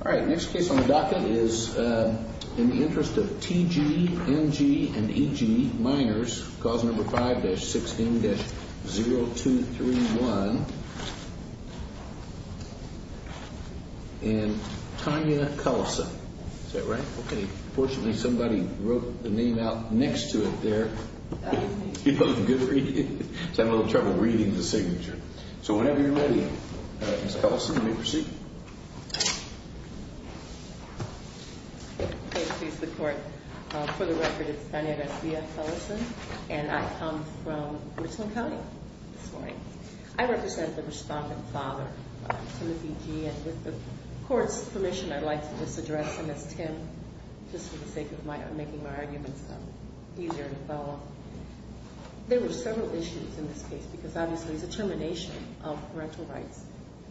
All right, next case on the docket is in the interest of T.G., N.G. and E.G., minors, cause number 5-16-0231, and Tonya Cullison. Is that right? Okay. Fortunately, somebody wrote the name out next to it there. You know, it's a good read. I'm having a little trouble reading the signature. Okay, please, the court. For the record, it's Tonya Garcia Cullison, and I come from Richland County this morning. I represent the Rostock father, Timothy G., and with the court's permission, I'd like to just address him as Tim, just for the sake of making my arguments easier to follow. There were several issues in this case because, obviously, it's a termination of parental rights,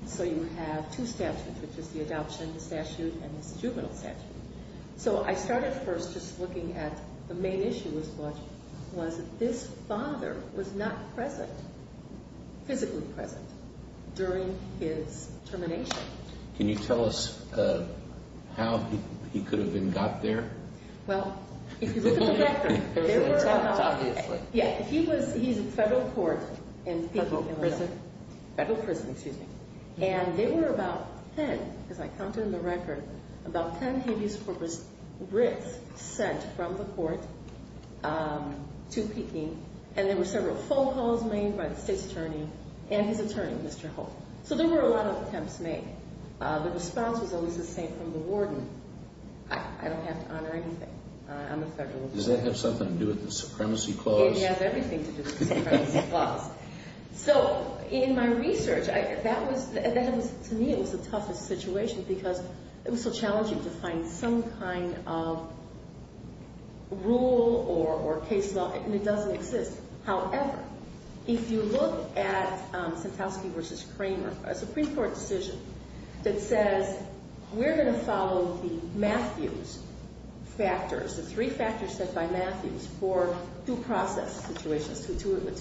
so you have two statutes, which is the adoption statute and the juvenile statute. So I started first just looking at the main issue was this father was not present, physically present, during his termination. Can you tell us how he could have been got there? Well, if you look at the record, he's in federal court. Federal prison? Federal prison. And there were about 10, as I counted in the record, about 10 habeas corpus writs sent from the court to Peking, and there were several phone calls made by the state's attorney and his attorney, Mr. Holt. So there were a lot of attempts made. The response was always the same from the warden. I don't have to honor anything. I'm a federal lawyer. Does that have something to do with the supremacy clause? It has everything to do with the supremacy clause. So in my research, that was, to me, it was the toughest situation because it was so challenging to find some kind of rule or case law, and it doesn't exist. However, if you look at Sentowski v. Kramer, a Supreme Court decision that says, we're going to follow the Matthews factors, the three factors set by Matthews for due process situations,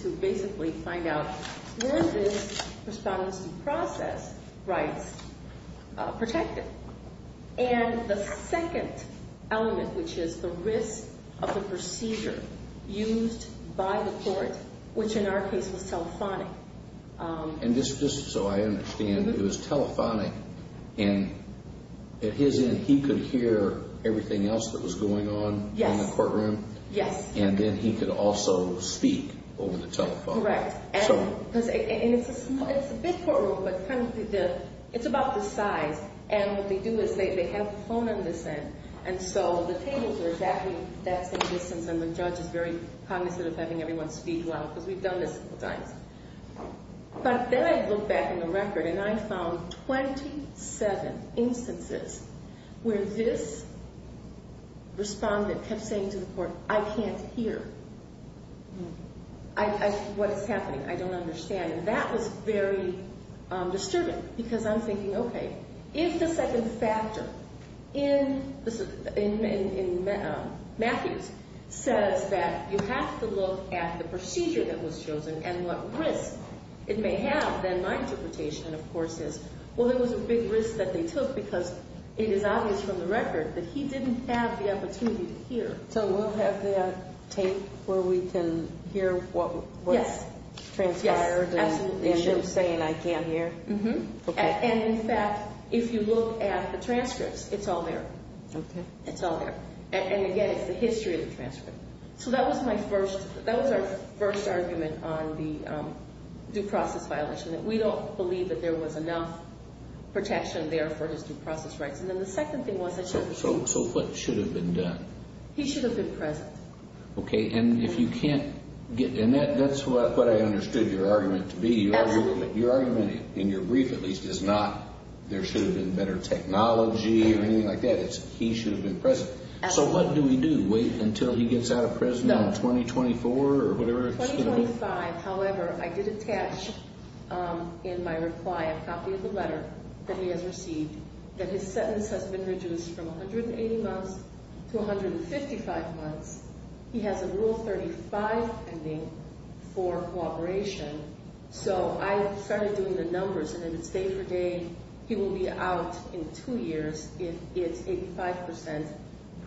to basically find out when this response to process rights protected. And the second element, which is the risk of the procedure used by the court, which in our case was telephonic. And just so I understand, it was telephonic, and at his end, he could hear everything else Yes. And then he could also speak over the telephone. Correct. And it's a big courtroom, but it's about this size. And what they do is they have a phone on this end. And so the tables are exactly that same distance, and the judge is very cognizant of having everyone speak loud, because we've done this a couple times. But then I looked back in the record, and I found 27 instances where this respondent kept saying to the court, I can't hear what is happening. I don't understand. And that was very disturbing, because I'm thinking, OK, if the second factor in Matthews says that you have to look at the procedure that was chosen and what risk it may have, then my interpretation, of course, is, well, there was a big risk that they took because it is obvious from the record that he didn't have the opportunity to hear. So we'll have that tape where we can hear what was transpired and him saying, I can't hear? Mm-hmm. And in fact, if you look at the transcripts, it's all there. OK. It's all there. And again, it's the history of the transcript. So that was our first argument on the due process violation, that we don't believe that there was enough protection there for his due process rights. And then the second thing was that he... So what should have been done? He should have been present. OK. And if you can't get... And that's what I understood your argument to be. Your argument, in your brief at least, is not there should have been better technology or anything like that. It's he should have been present. Absolutely. So what do we do? Wait until he gets out of prison in 2024 or whatever it's... In 2025, however, I did attach in my reply a copy of the letter that he has received that his sentence has been reduced from 180 months to 155 months. He has a Rule 35 pending for cooperation. So I started doing the numbers, and if it's day for day, he will be out in two years if it's 85%,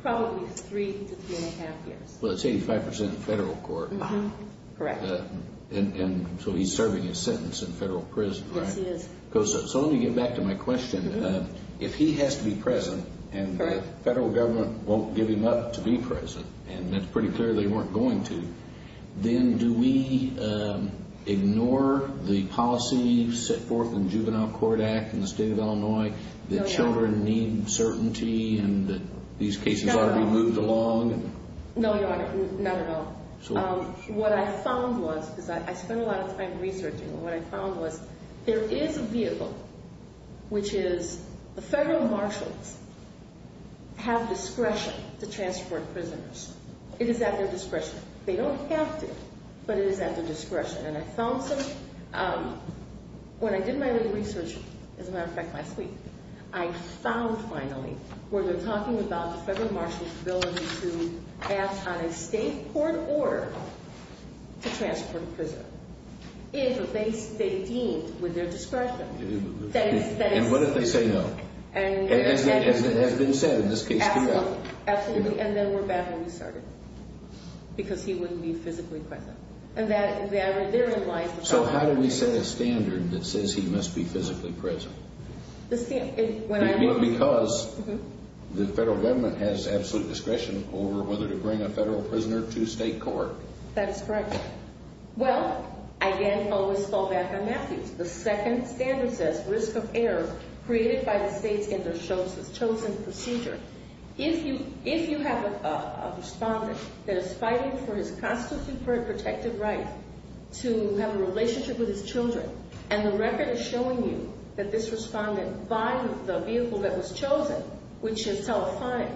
probably three to three and a half years. Well, it's 85% in federal court. Correct. And so he's serving his sentence in federal prison, right? Yes, he is. So let me get back to my question. If he has to be present and the federal government won't give him up to be present, and it's pretty clear they weren't going to, then do we ignore the policy set forth in Juvenile Court Act in the state of Illinois that children need certainty and that these cases are being moved along? No, Your Honor. Not at all. What I found was, because I spent a lot of time researching, and what I found was there is a view, which is the federal marshals have discretion to transport prisoners. It is at their discretion. They don't have to, but it is at their discretion. And I found some, when I did my little research, as a matter of fact, last week, to ask on a state court order to transport a prisoner. If they deemed with their discretion. And what if they say no? As it has been said in this case, do that. Absolutely. And then we're back where we started. Because he wouldn't be physically present. And they're in line. So how do we set a standard that says he must be physically present? Because the federal government has absolute discretion over whether to bring a federal prisoner to state court. That is correct. Well, I again always fall back on Matthews. The second standard says risk of error created by the states in the chosen procedure. If you have a respondent that is fighting for his constitutory protected right to have a relationship with his children, and the record is showing you that this respondent, by the vehicle that was chosen, which is telephonic,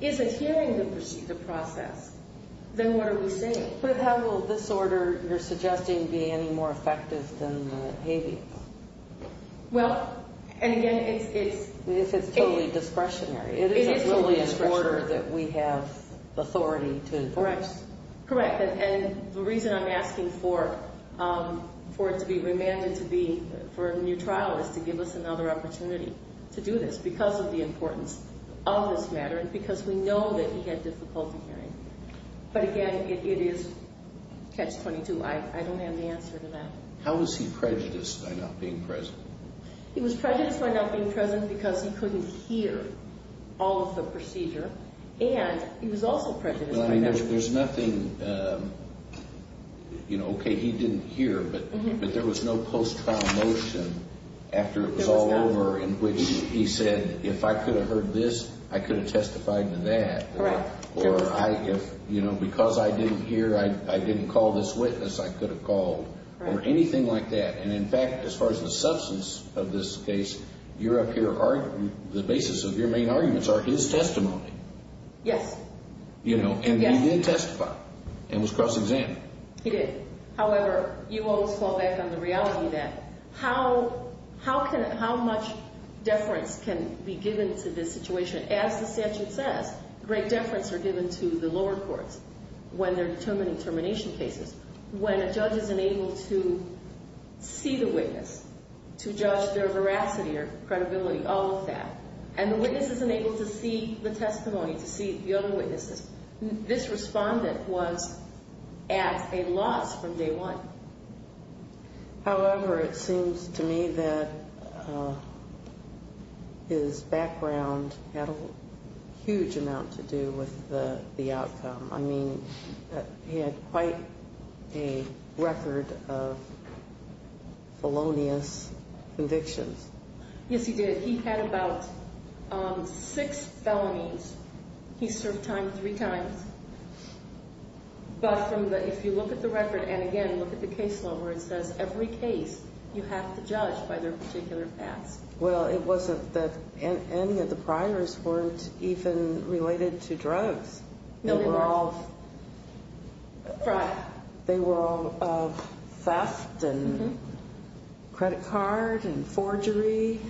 is adhering to the procedure process, then what are we saying? But how will this order you're suggesting be any more effective than the habeas? Well, and again, it's... If it's totally discretionary. It is totally in order that we have authority to enforce. Correct. And the reason I'm asking for it to be remanded for a new trial is to give us another opportunity to do this because of the importance of this matter and because we know that he had difficulty hearing. But again, it is catch-22. I don't have the answer to that. How was he prejudiced by not being present? He was prejudiced by not being present because he couldn't hear all of the procedure. And he was also prejudiced... There's nothing... Okay, he didn't hear, but there was no post-trial motion after it was all over in which he said, if I could have heard this, I could have testified to that, or because I didn't hear, I didn't call this witness, I could have called, or anything like that. And in fact, as far as the substance of this case, you're up here arguing... The basis of your main arguments are his testimony. Yes. And he did testify and was cross-examined. He did. However, you always fall back on the reality of that. How much deference can be given to this situation? As the statute says, great deference are given to the lower courts when they're determining termination cases. When a judge isn't able to see the witness, to judge their veracity or credibility, all of that, and the witness isn't able to see the testimony, to see the other witnesses, this respondent was at a loss from day one. However, it seems to me that his background had a huge amount to do with the outcome. I mean, he had quite a record of felonious convictions. Yes, he did. He had about six felonies. He served time three times. But if you look at the record, and again, look at the case law where it says every case you have to judge by their particular past. Well, it wasn't that any of the priors weren't even related to drugs. No, they weren't. They were all... Right. They were all theft and credit card and forgery.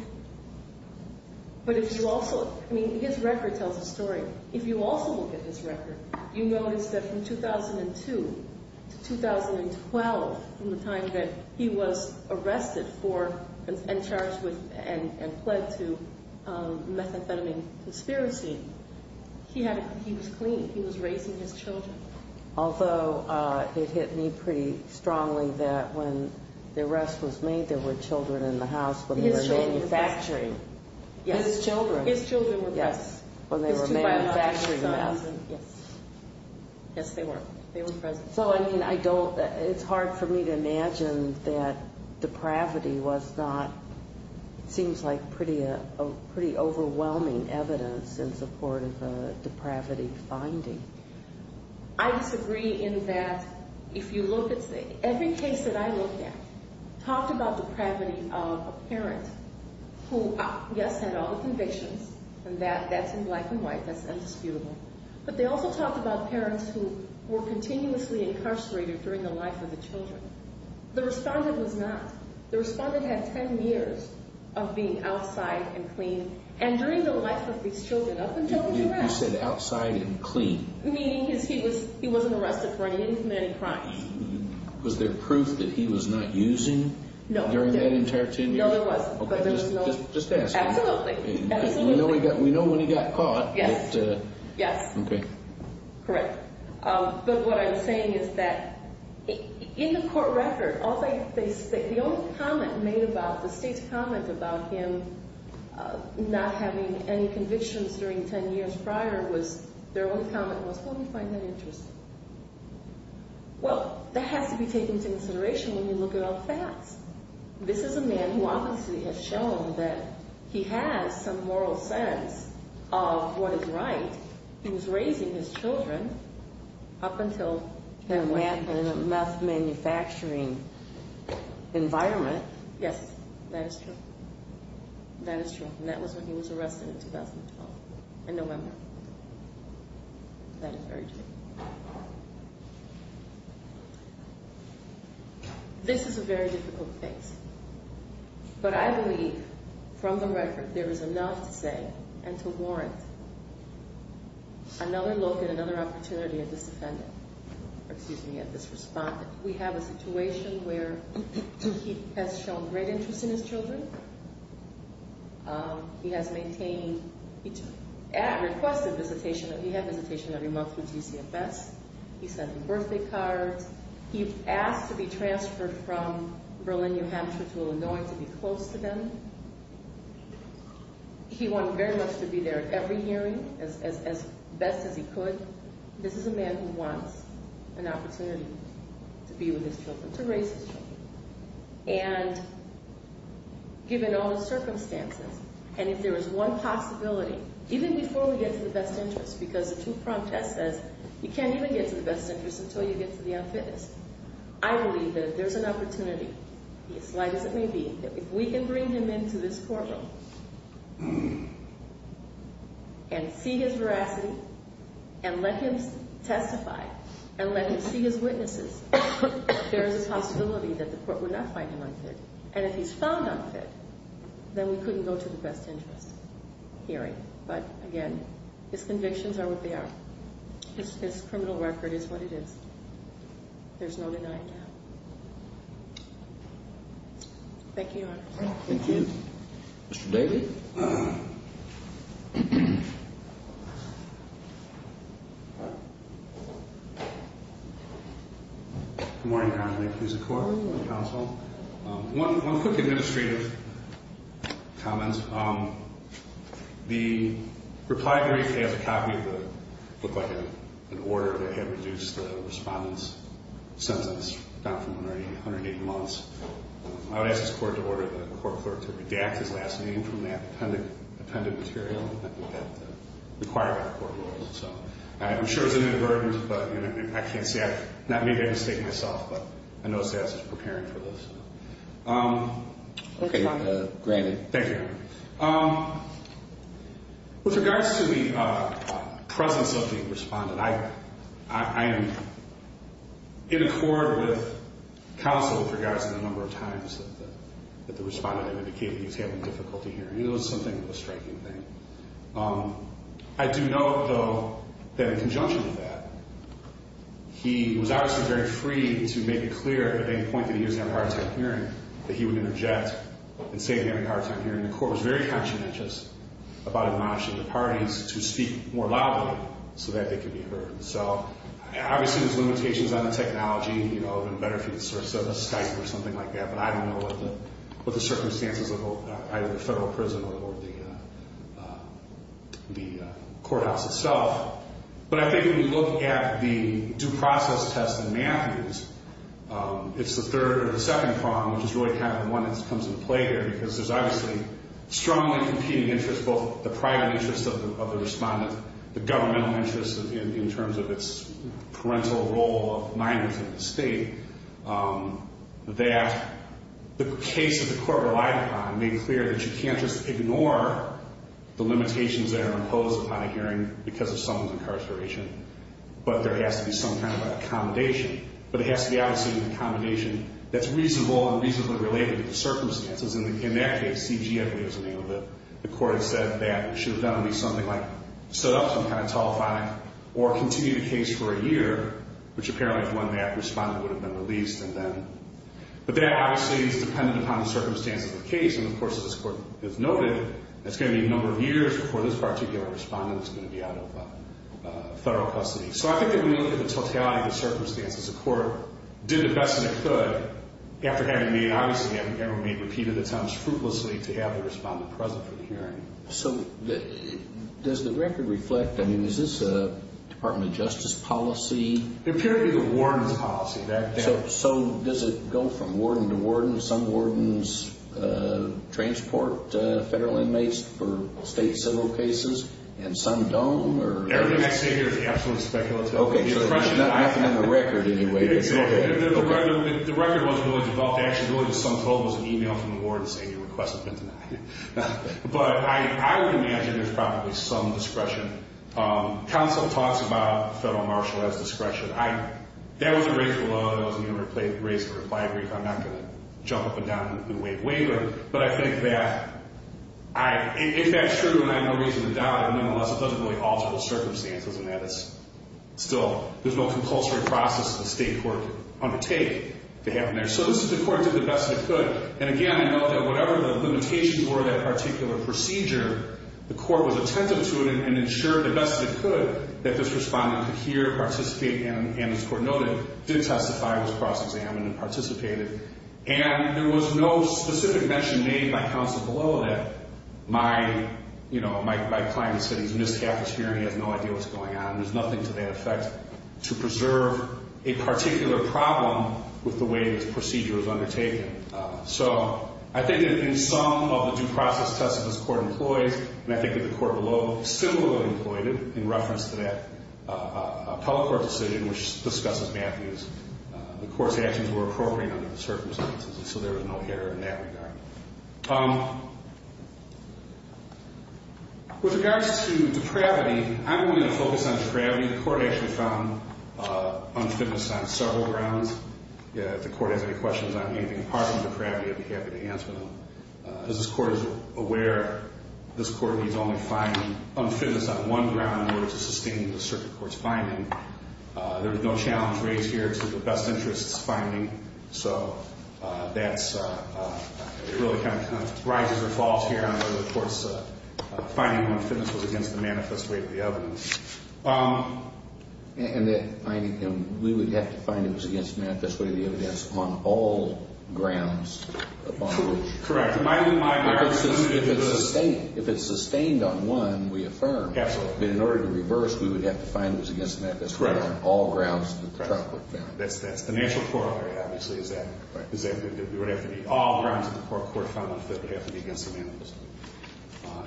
But if you also... I mean, his record tells a story. If you also look at his record, you notice that from 2002 to 2012, from the time that he was arrested for and charged with and pled to methamphetamine conspiracy, he was clean. He was raising his children. Although, it hit me pretty strongly that when the arrest was made, there were children in the house, when they were manufacturing. Yes. His children. His children were present. When they were manufacturing meth. Yes. Yes, they were. They were present. So, I mean, I don't... It's hard for me to imagine that depravity was not... It seems like pretty overwhelming evidence in support of a depravity finding. I disagree in that if you look at... Every case that I looked at talked about depravity of a parent who, yes, had all the convictions. And that's in black and white. That's indisputable. But they also talked about parents who were continuously incarcerated during the life of the children. The respondent was not. The respondent had 10 years of being outside and clean and during the life of these children up until he was arrested. You said outside and clean. Meaning he wasn't arrested for any crimes. Was there proof that he was not using during that entire 10 years? No, there wasn't. Just ask him. Absolutely. We know when he got caught. Yes. Okay. Correct. But what I'm saying is that in the court record, the only comment made about the state's comment about him not having any convictions during 10 years prior was their only comment was, well, we find that interesting. Well, that has to be taken into consideration when you look at all the facts. This is a man who obviously has shown that he has some moral sense of what is right. He was raising his children up until... In a meth manufacturing environment. Yes, that is true. That is true. And that was when he was arrested in 2012, in November. That is very true. This is a very difficult case. But I believe from the record there is enough to say and to warrant another look at another opportunity at this defendant. Excuse me, at this respondent. We have a situation where he has shown great interest in his children. He has maintained... He requested visitation. He had visitation every month through GCF. He sent birthday cards. He asked to be transferred from Berlin, New Hampshire to Illinois to be close to them. He wanted very much to be there at every hearing as best as he could. This is a man who wants an opportunity to be with his children, to raise his children. And given all the circumstances and if there is one possibility, even before we get to the best interest because the two-pronged test says you can't even get to the best interest until you get to the unfitness. I believe that if there's an opportunity as light as it may be that if we can bring him into this courtroom and see his veracity and let him testify and let him see his witnesses there is a possibility that the court would not find him unfit. And if he's found unfit then we couldn't go to the best interest hearing. But again, his convictions are what they are. His criminal record is what it is. There's no denying that. Thank you, Your Honor. Thank you. Mr. Daly? Good morning, Your Honor. May it please the Court and the Counsel. One quick administrative comment. The reply brief has a copy of what looked like an order that had reduced the respondent's sentence down from 180 months. I would ask this Court to order the court clerk to redact his last name from that appended material that required by the court rules. I'm sure it's an inadvertent but I can't say, maybe I've mistaken myself but I know SAS is preparing for this. Okay, granted. Thank you, Your Honor. With regards to the presence of the respondent, I am in accord with counsel with regards to the number of times that the respondent had indicated he was having difficulty hearing. It was something of a striking thing. I do note, though, that in conjunction with that, he was obviously very free to make it clear at any point that he was having a hard time hearing that he would interject and say that he was having a hard time hearing. The Court was very conscientious about acknowledging the parties to speak more loudly so that they could be heard. Obviously, there's limitations on the technology and it would have been better for you to sort of Skype or something like that but I don't know what the circumstances of either the federal prison or the courthouse itself. But I think if you look at the due process test in Matthews, it's the third or the second prong which is really kind of one that comes into play here because there's obviously strongly competing interests both the private interest of the respondent, the governmental interest in terms of its parental role of minors in the state that the case that the Court relied upon made clear that you can't just ignore the limitations that are imposed upon a hearing because of someone's incarceration but there has to be some kind of accommodation but it has to be obviously an accommodation that's reasonable and reasonably related to the circumstances and in that case C.G.F. is the name of the court that said that should have done would be something like set up some kind of tall fine or continue the case for a year which apparently is when that respondent would have been released and then but that obviously is dependent upon the circumstances of the case and of course as this Court has noted it's going to be a number of years before this particular respondent is going to be out of federal custody so I think that when you look at the totality of the circumstances the Court did the best that it could after having made obviously repeated attempts fruitlessly to have the respondent present for the hearing so does the record reflect I mean is this a Department of Justice policy it appears to be the warden's policy so does it go from warden to warden some wardens transport federal inmates for state civil cases and some don't or everything I say here is absolutely speculative okay so there's nothing in the record anyway the record wasn't really developed actually some told us an email from the ward to say your request has been denied but I would imagine there's probably some discretion counsel talks about federal marshal as discretion that wasn't raised below it wasn't even raised in a reply brief I'm not going to jump up and down in a new wave waiver but I think that if that's true and I have no reason to doubt it nonetheless it doesn't really alter the circumstances in that it's still there's no compulsory process the state court undertake to happen there so this is the court did the best it could and again I know that whatever the limitations were that particular procedure the court was attentive to it and ensured the best it could that this respondent could hear participate and as the court noted did testify was cross-examined and participated and there was no specific mention made by counsel below that my client said he's missed half his hearing he has no idea what's going on there's nothing to that effect to preserve a particular problem with the way the procedure was undertaken so I think that in some of the due process tests this court employs and I think the court below similarly employed it in reference to that appellate court decision which discusses Matthew's the court's actions were appropriate under the circumstances so there was no error in that regard with regards to depravity I'm going to focus on depravity the court actually found unfitness on several grounds if the court has any questions on anything apart from depravity I'd be happy to answer them as this court is aware this court needs only finding unfitness on one ground in order to sustain the circuit court's finding there was no challenge raised here to the best interests finding so that's it really kind of rises or falls here on finding unfitness was against the manifest weight of the evidence we would have to find it was against the manifest weight of the evidence on all grounds correct if it's sustained on one we affirm but in order to reverse we would have to find unfitness on all grounds that's the natural corollary obviously is that we would have to be all grounds against the manifest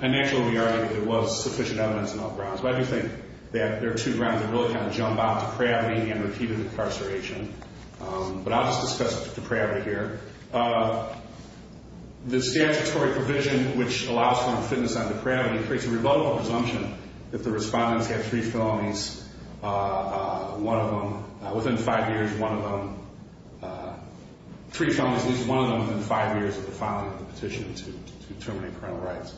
and naturally there was sufficient evidence on all grounds why do you think there are two grounds that really jump out depravity and repeated incarceration but I'll just discuss depravity here the statutory provision which allows unfitness on depravity creates a presumption that the respondents have three felonies one of them within five years one of them three felonies at least one of them within five years of the filing of the petition to terminate parental rights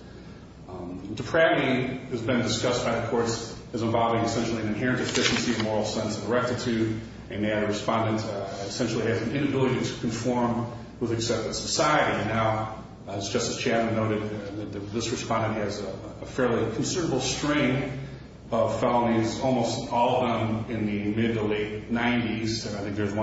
depravity has been discussed by the courts as involving essentially an inherent deficiency of moral sense of rectitude and they had a respondent that essentially had an inability to conform with accepted society and now as Justice Chatham noted this respondent has a fairly considerable string of felonies almost all of them in the mid to late nineties and I think there's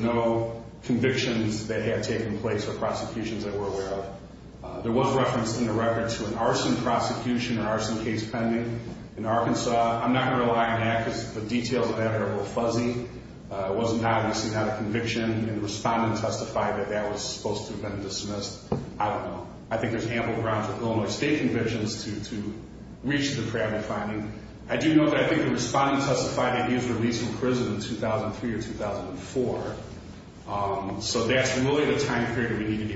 no conviction that had taken place or prosecutions that were aware of there was referenced in the record to an arson prosecution or arson case pending in Arkansas I'm not going to rely on record but I do know that I think the respondent testified that he was released from prison in 2003 or 2004 so that's really the time period we need to be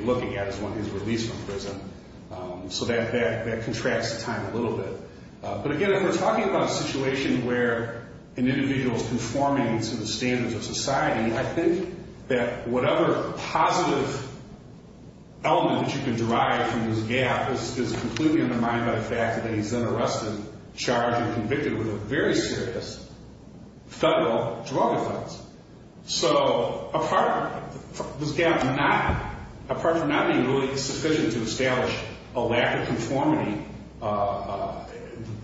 charged and convicted with a very serious federal drug offense so apart from not being really sufficient to establish a lack of conformity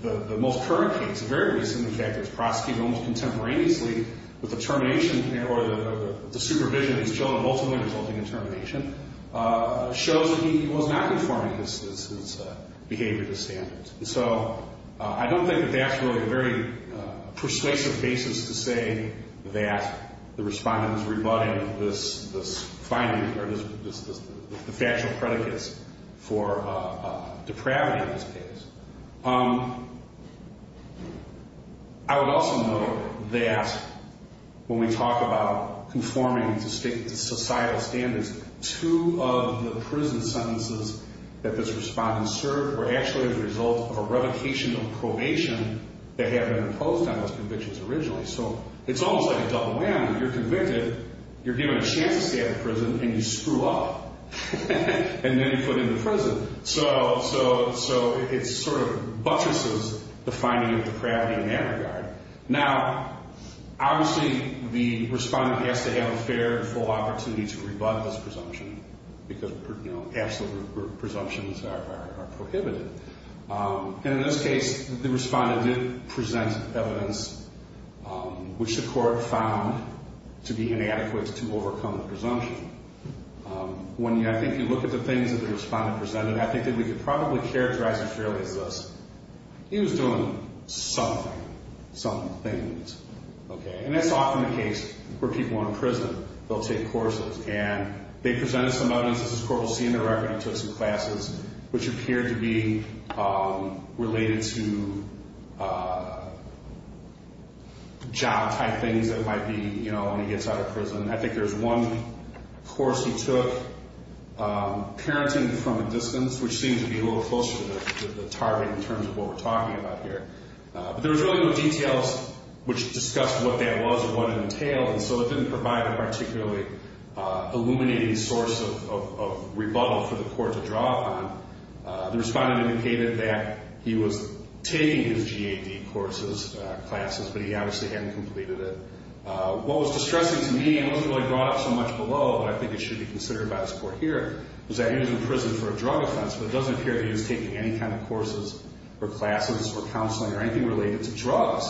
the most current case very recently prosecuted almost contemporaneously with I don't think that that's really a very persuasive basis to say that the respondent is rebutting this finding the factual predicates for depravity in this case I would also note that when we talk about conforming to the predication of probation that had been imposed on those convictions originally so it's almost like a double whammy you're convicted you're given a chance to stay out of prison and you screw up and then you put into prison so it sort of buttresses the finding of depravity in that regard now obviously the respondent has to have a fair opportunity to rebut this presumption because absolute presumptions are prohibited in this case the respondent did present evidence which the court found to be inadequate to overcome the presumption when I think you look at the things the respondent presented I think we could probably characterize him fairly as this he was doing something some things and that's often the case where people in prison they'll take courses and they presented some evidence which appeared to be related to job type things that might be when he gets out of prison I think there's one course he took parenting from a distance which didn't provide a particularly illuminating source of rebuttal for the court to draw upon the respondent indicated that he was taking his GAD courses classes but he obviously hadn't completed it what was distressing to me wasn't brought up so much below but I think it should be considered by this court here was that he was in prison for a drug offense but it doesn't appear that he was taking any kind of courses or classes or counseling or anything related to drugs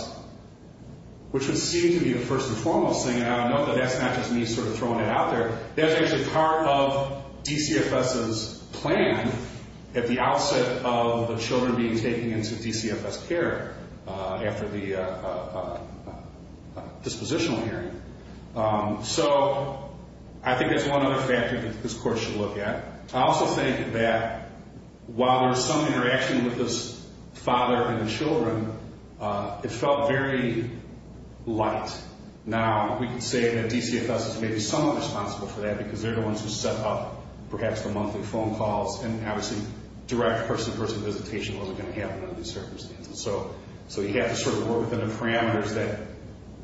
which would seem to be the first and foremost thing and I know that that's not just me sort of throwing it out there that's actually part of DCFS's plan at the outset of the children being taken into DCFS care after the dispositional hearing so I think that's one other factor that this court should look at I also think that while there's some interaction with this father and the children it felt very light now we can say that DCFS is maybe somewhat responsible for that because they're the ones who set up perhaps the monthly phone calls and obviously direct person-to-person visitation wasn't going to happen under these circumstances so you have to sort of work within the parameters that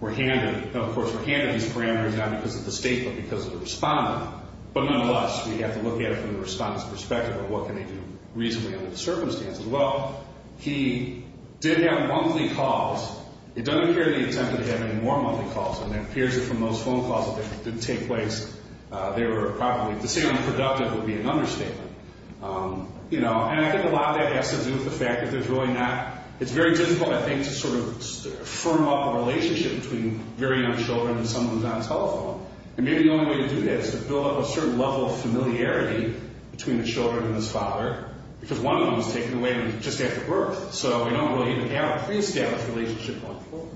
were handed because of the state but because of the respondent but nonetheless we have to look at it from the respondent's perspective of what can they do reasonably under the circumstances well he did have monthly calls it doesn't appear that he really attempted to have any more monthly calls and it appears from those phone calls that didn't take place they were probably the same unproductive would be an understatement you know and I think a lot of that has to do with the fact that there's really not it's very difficult I think to sort of firm up a relationship between very young children and someone who's on telephone and maybe the only way to do that is to build up a certain level of familiarity between the children and his father because one of them was taken away just after he was born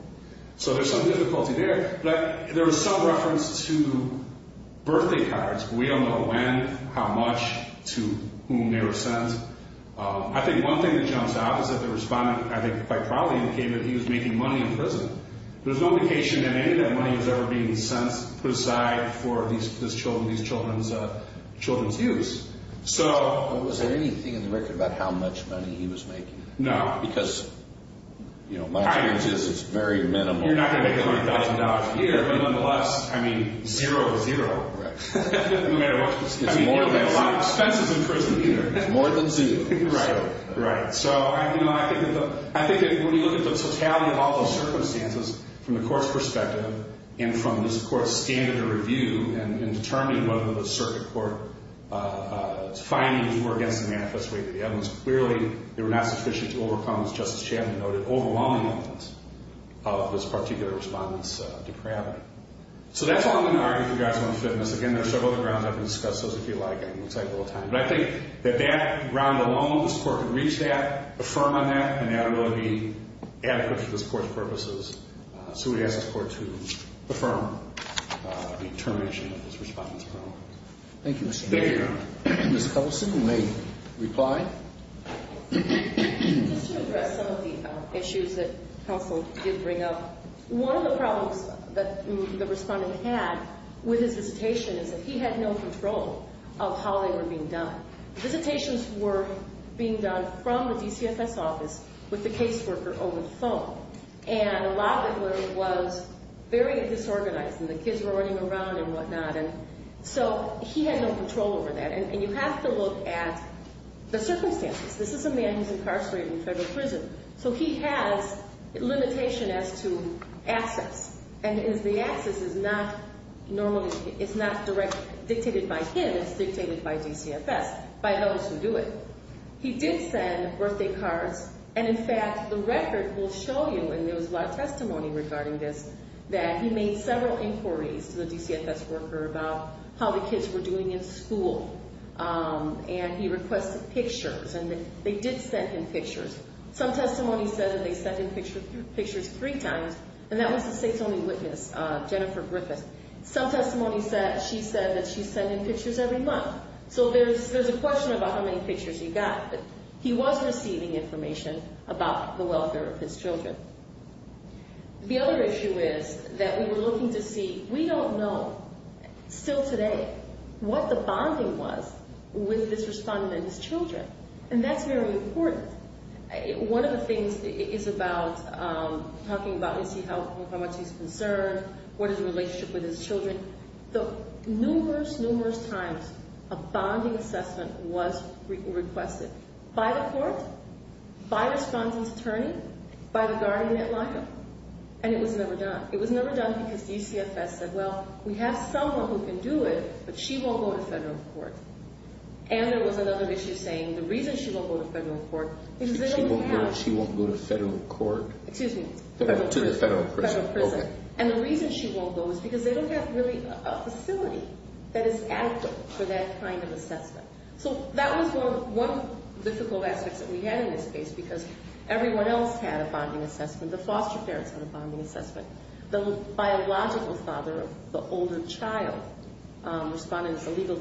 so there's some difficulty there but there is some reference to birthday cards we don't know when how much to whom they were sent I think one thing that jumps out is that the respondent I think probably indicated that he was making money in prison but there's no indication that any of that money was ever being put aside for these children's use so was there anything in the record about how much money he was making no because my experience is it's very minimal you're not going to make $100,000 a year but nonetheless zero it's more than zero I mean you don't have a lot of expenses in prison either it's more than zero so I think when we look at the totality of all those circumstances from the court's perspective and from this standard of review and determining whether the circuit of this court is finding or against the manifest weight of the evidence clearly they were not sufficient to overcome this justice chairman noted overwhelming evidence of this particular respondent's depravity so that's all I'm going to argue regarding this court's purposes so we ask this court to affirm the determination of this respondent's problem thank you Mr. Mayor Ms. Cousin may reply just to address some of the issues that counsel did bring up one of the problems that the respondent had with his visitation is that he had no control of how they were being done visitations were being done from the DCFS office with the caseworker over the phone and a lot of it was very disorganized and the kids were running out of access and the access is not it's not directly dictated by him it's dictated by DCFS by those who do it he did send birthday cards and in fact the record will show you and there was a lot of testimony regarding this that he made several inquiries to the DCFS worker about how the kids were doing in school and he requested pictures and they did send him pictures some testimony said that they sent him pictures three times and that was the state's only witness Jennifer Griffith some testimony said she said that she sent him pictures every month so there's a question about how many pictures he got he was receiving information about the welfare of his children the other issue is that we were looking to see we don't know still today what the bonding was with this respondent and his children and that's very important one of the things is about talking about is he how much he's concerned what his relationship with his children numerous numerous times a bonding assessment was requested by the court by the respondent's attorney by the respondent's attorney the reason she won't go to federal court excuse me to the federal prison and the reason she won't go is because they don't have a facility that is adequate for that kind of assessment so that was one of the difficult aspects we had in this case because everyone else had a bonding assessment the biological father of the older child the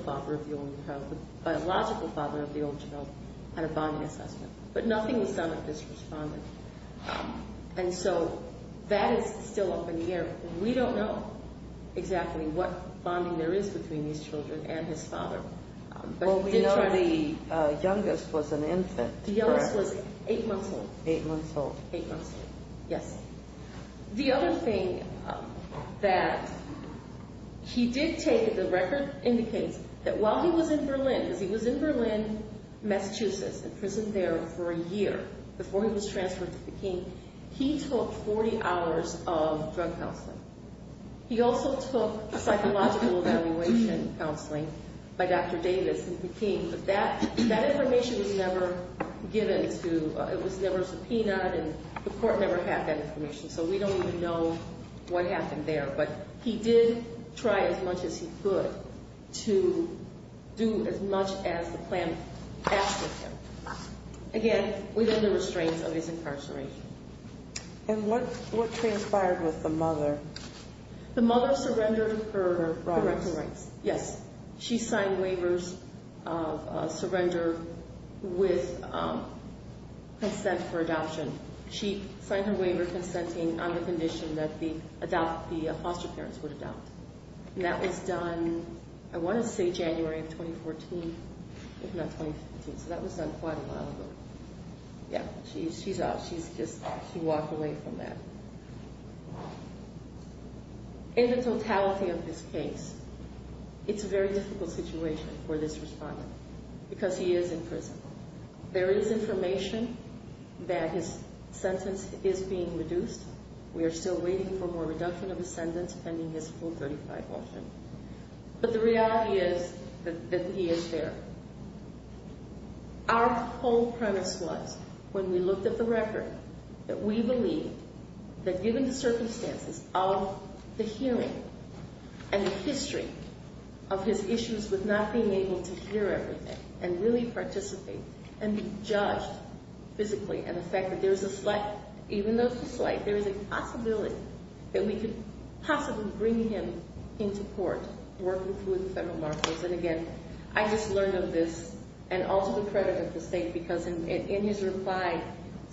biological father of the older child had a bonding assessment but nothing was done with this respondent and so that is still eight months old eight months old yes the other thing that he did take the record indicates that while he was in Berlin Massachusetts imprisoned there for a year before he was transferred to Peking he took 40 hours of drug counseling he also took psychological evaluation counseling by Dr. Davis in Peking that information was never given to it was never subpoenaed and the court never had that information so we don't even know what happened there but he did try as much as he could to do as much as the plan had asked of him again within the restraints of his incarceration and what transpired mother the mother surrendered her rights yes she signed waivers of surrender with consent for adoption she signed her waiver in 2015 so that was done quite a while ago yeah she's she's out she's just she walked away from that in the totality of this case it's a very difficult situation for this person but the reality is that he is there our whole premise was when we looked at the record that we believe that given the circumstances of the hearing and the history of his issues with not being able to hear everything and really participate and be judged physically and the fact that there's a slight even though it's a slight there's a possibility that we could possibly bring him into court working through the federal markets and again I just learned of this and also the credit of the state because in his reply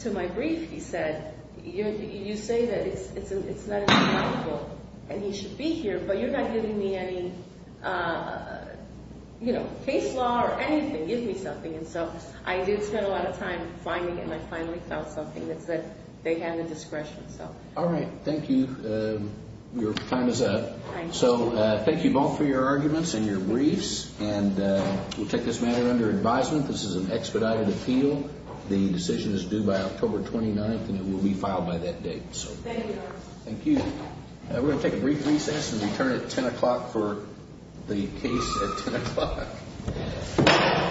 to my brief he said you say that it's not even likable and he should be here but you're not giving me any case law or anything give me something and so I did spend a lot of time finding and I finally found something that's that they had the discretion so all right thank you your time is up so thank you both for your arguments and your briefs and we'll take this matter under advisement this is an expedited appeal the decision is due by October 29th and it will be filed by that date so thank you we're gonna take a brief recess and return at ten o'clock for the case at ten o'clock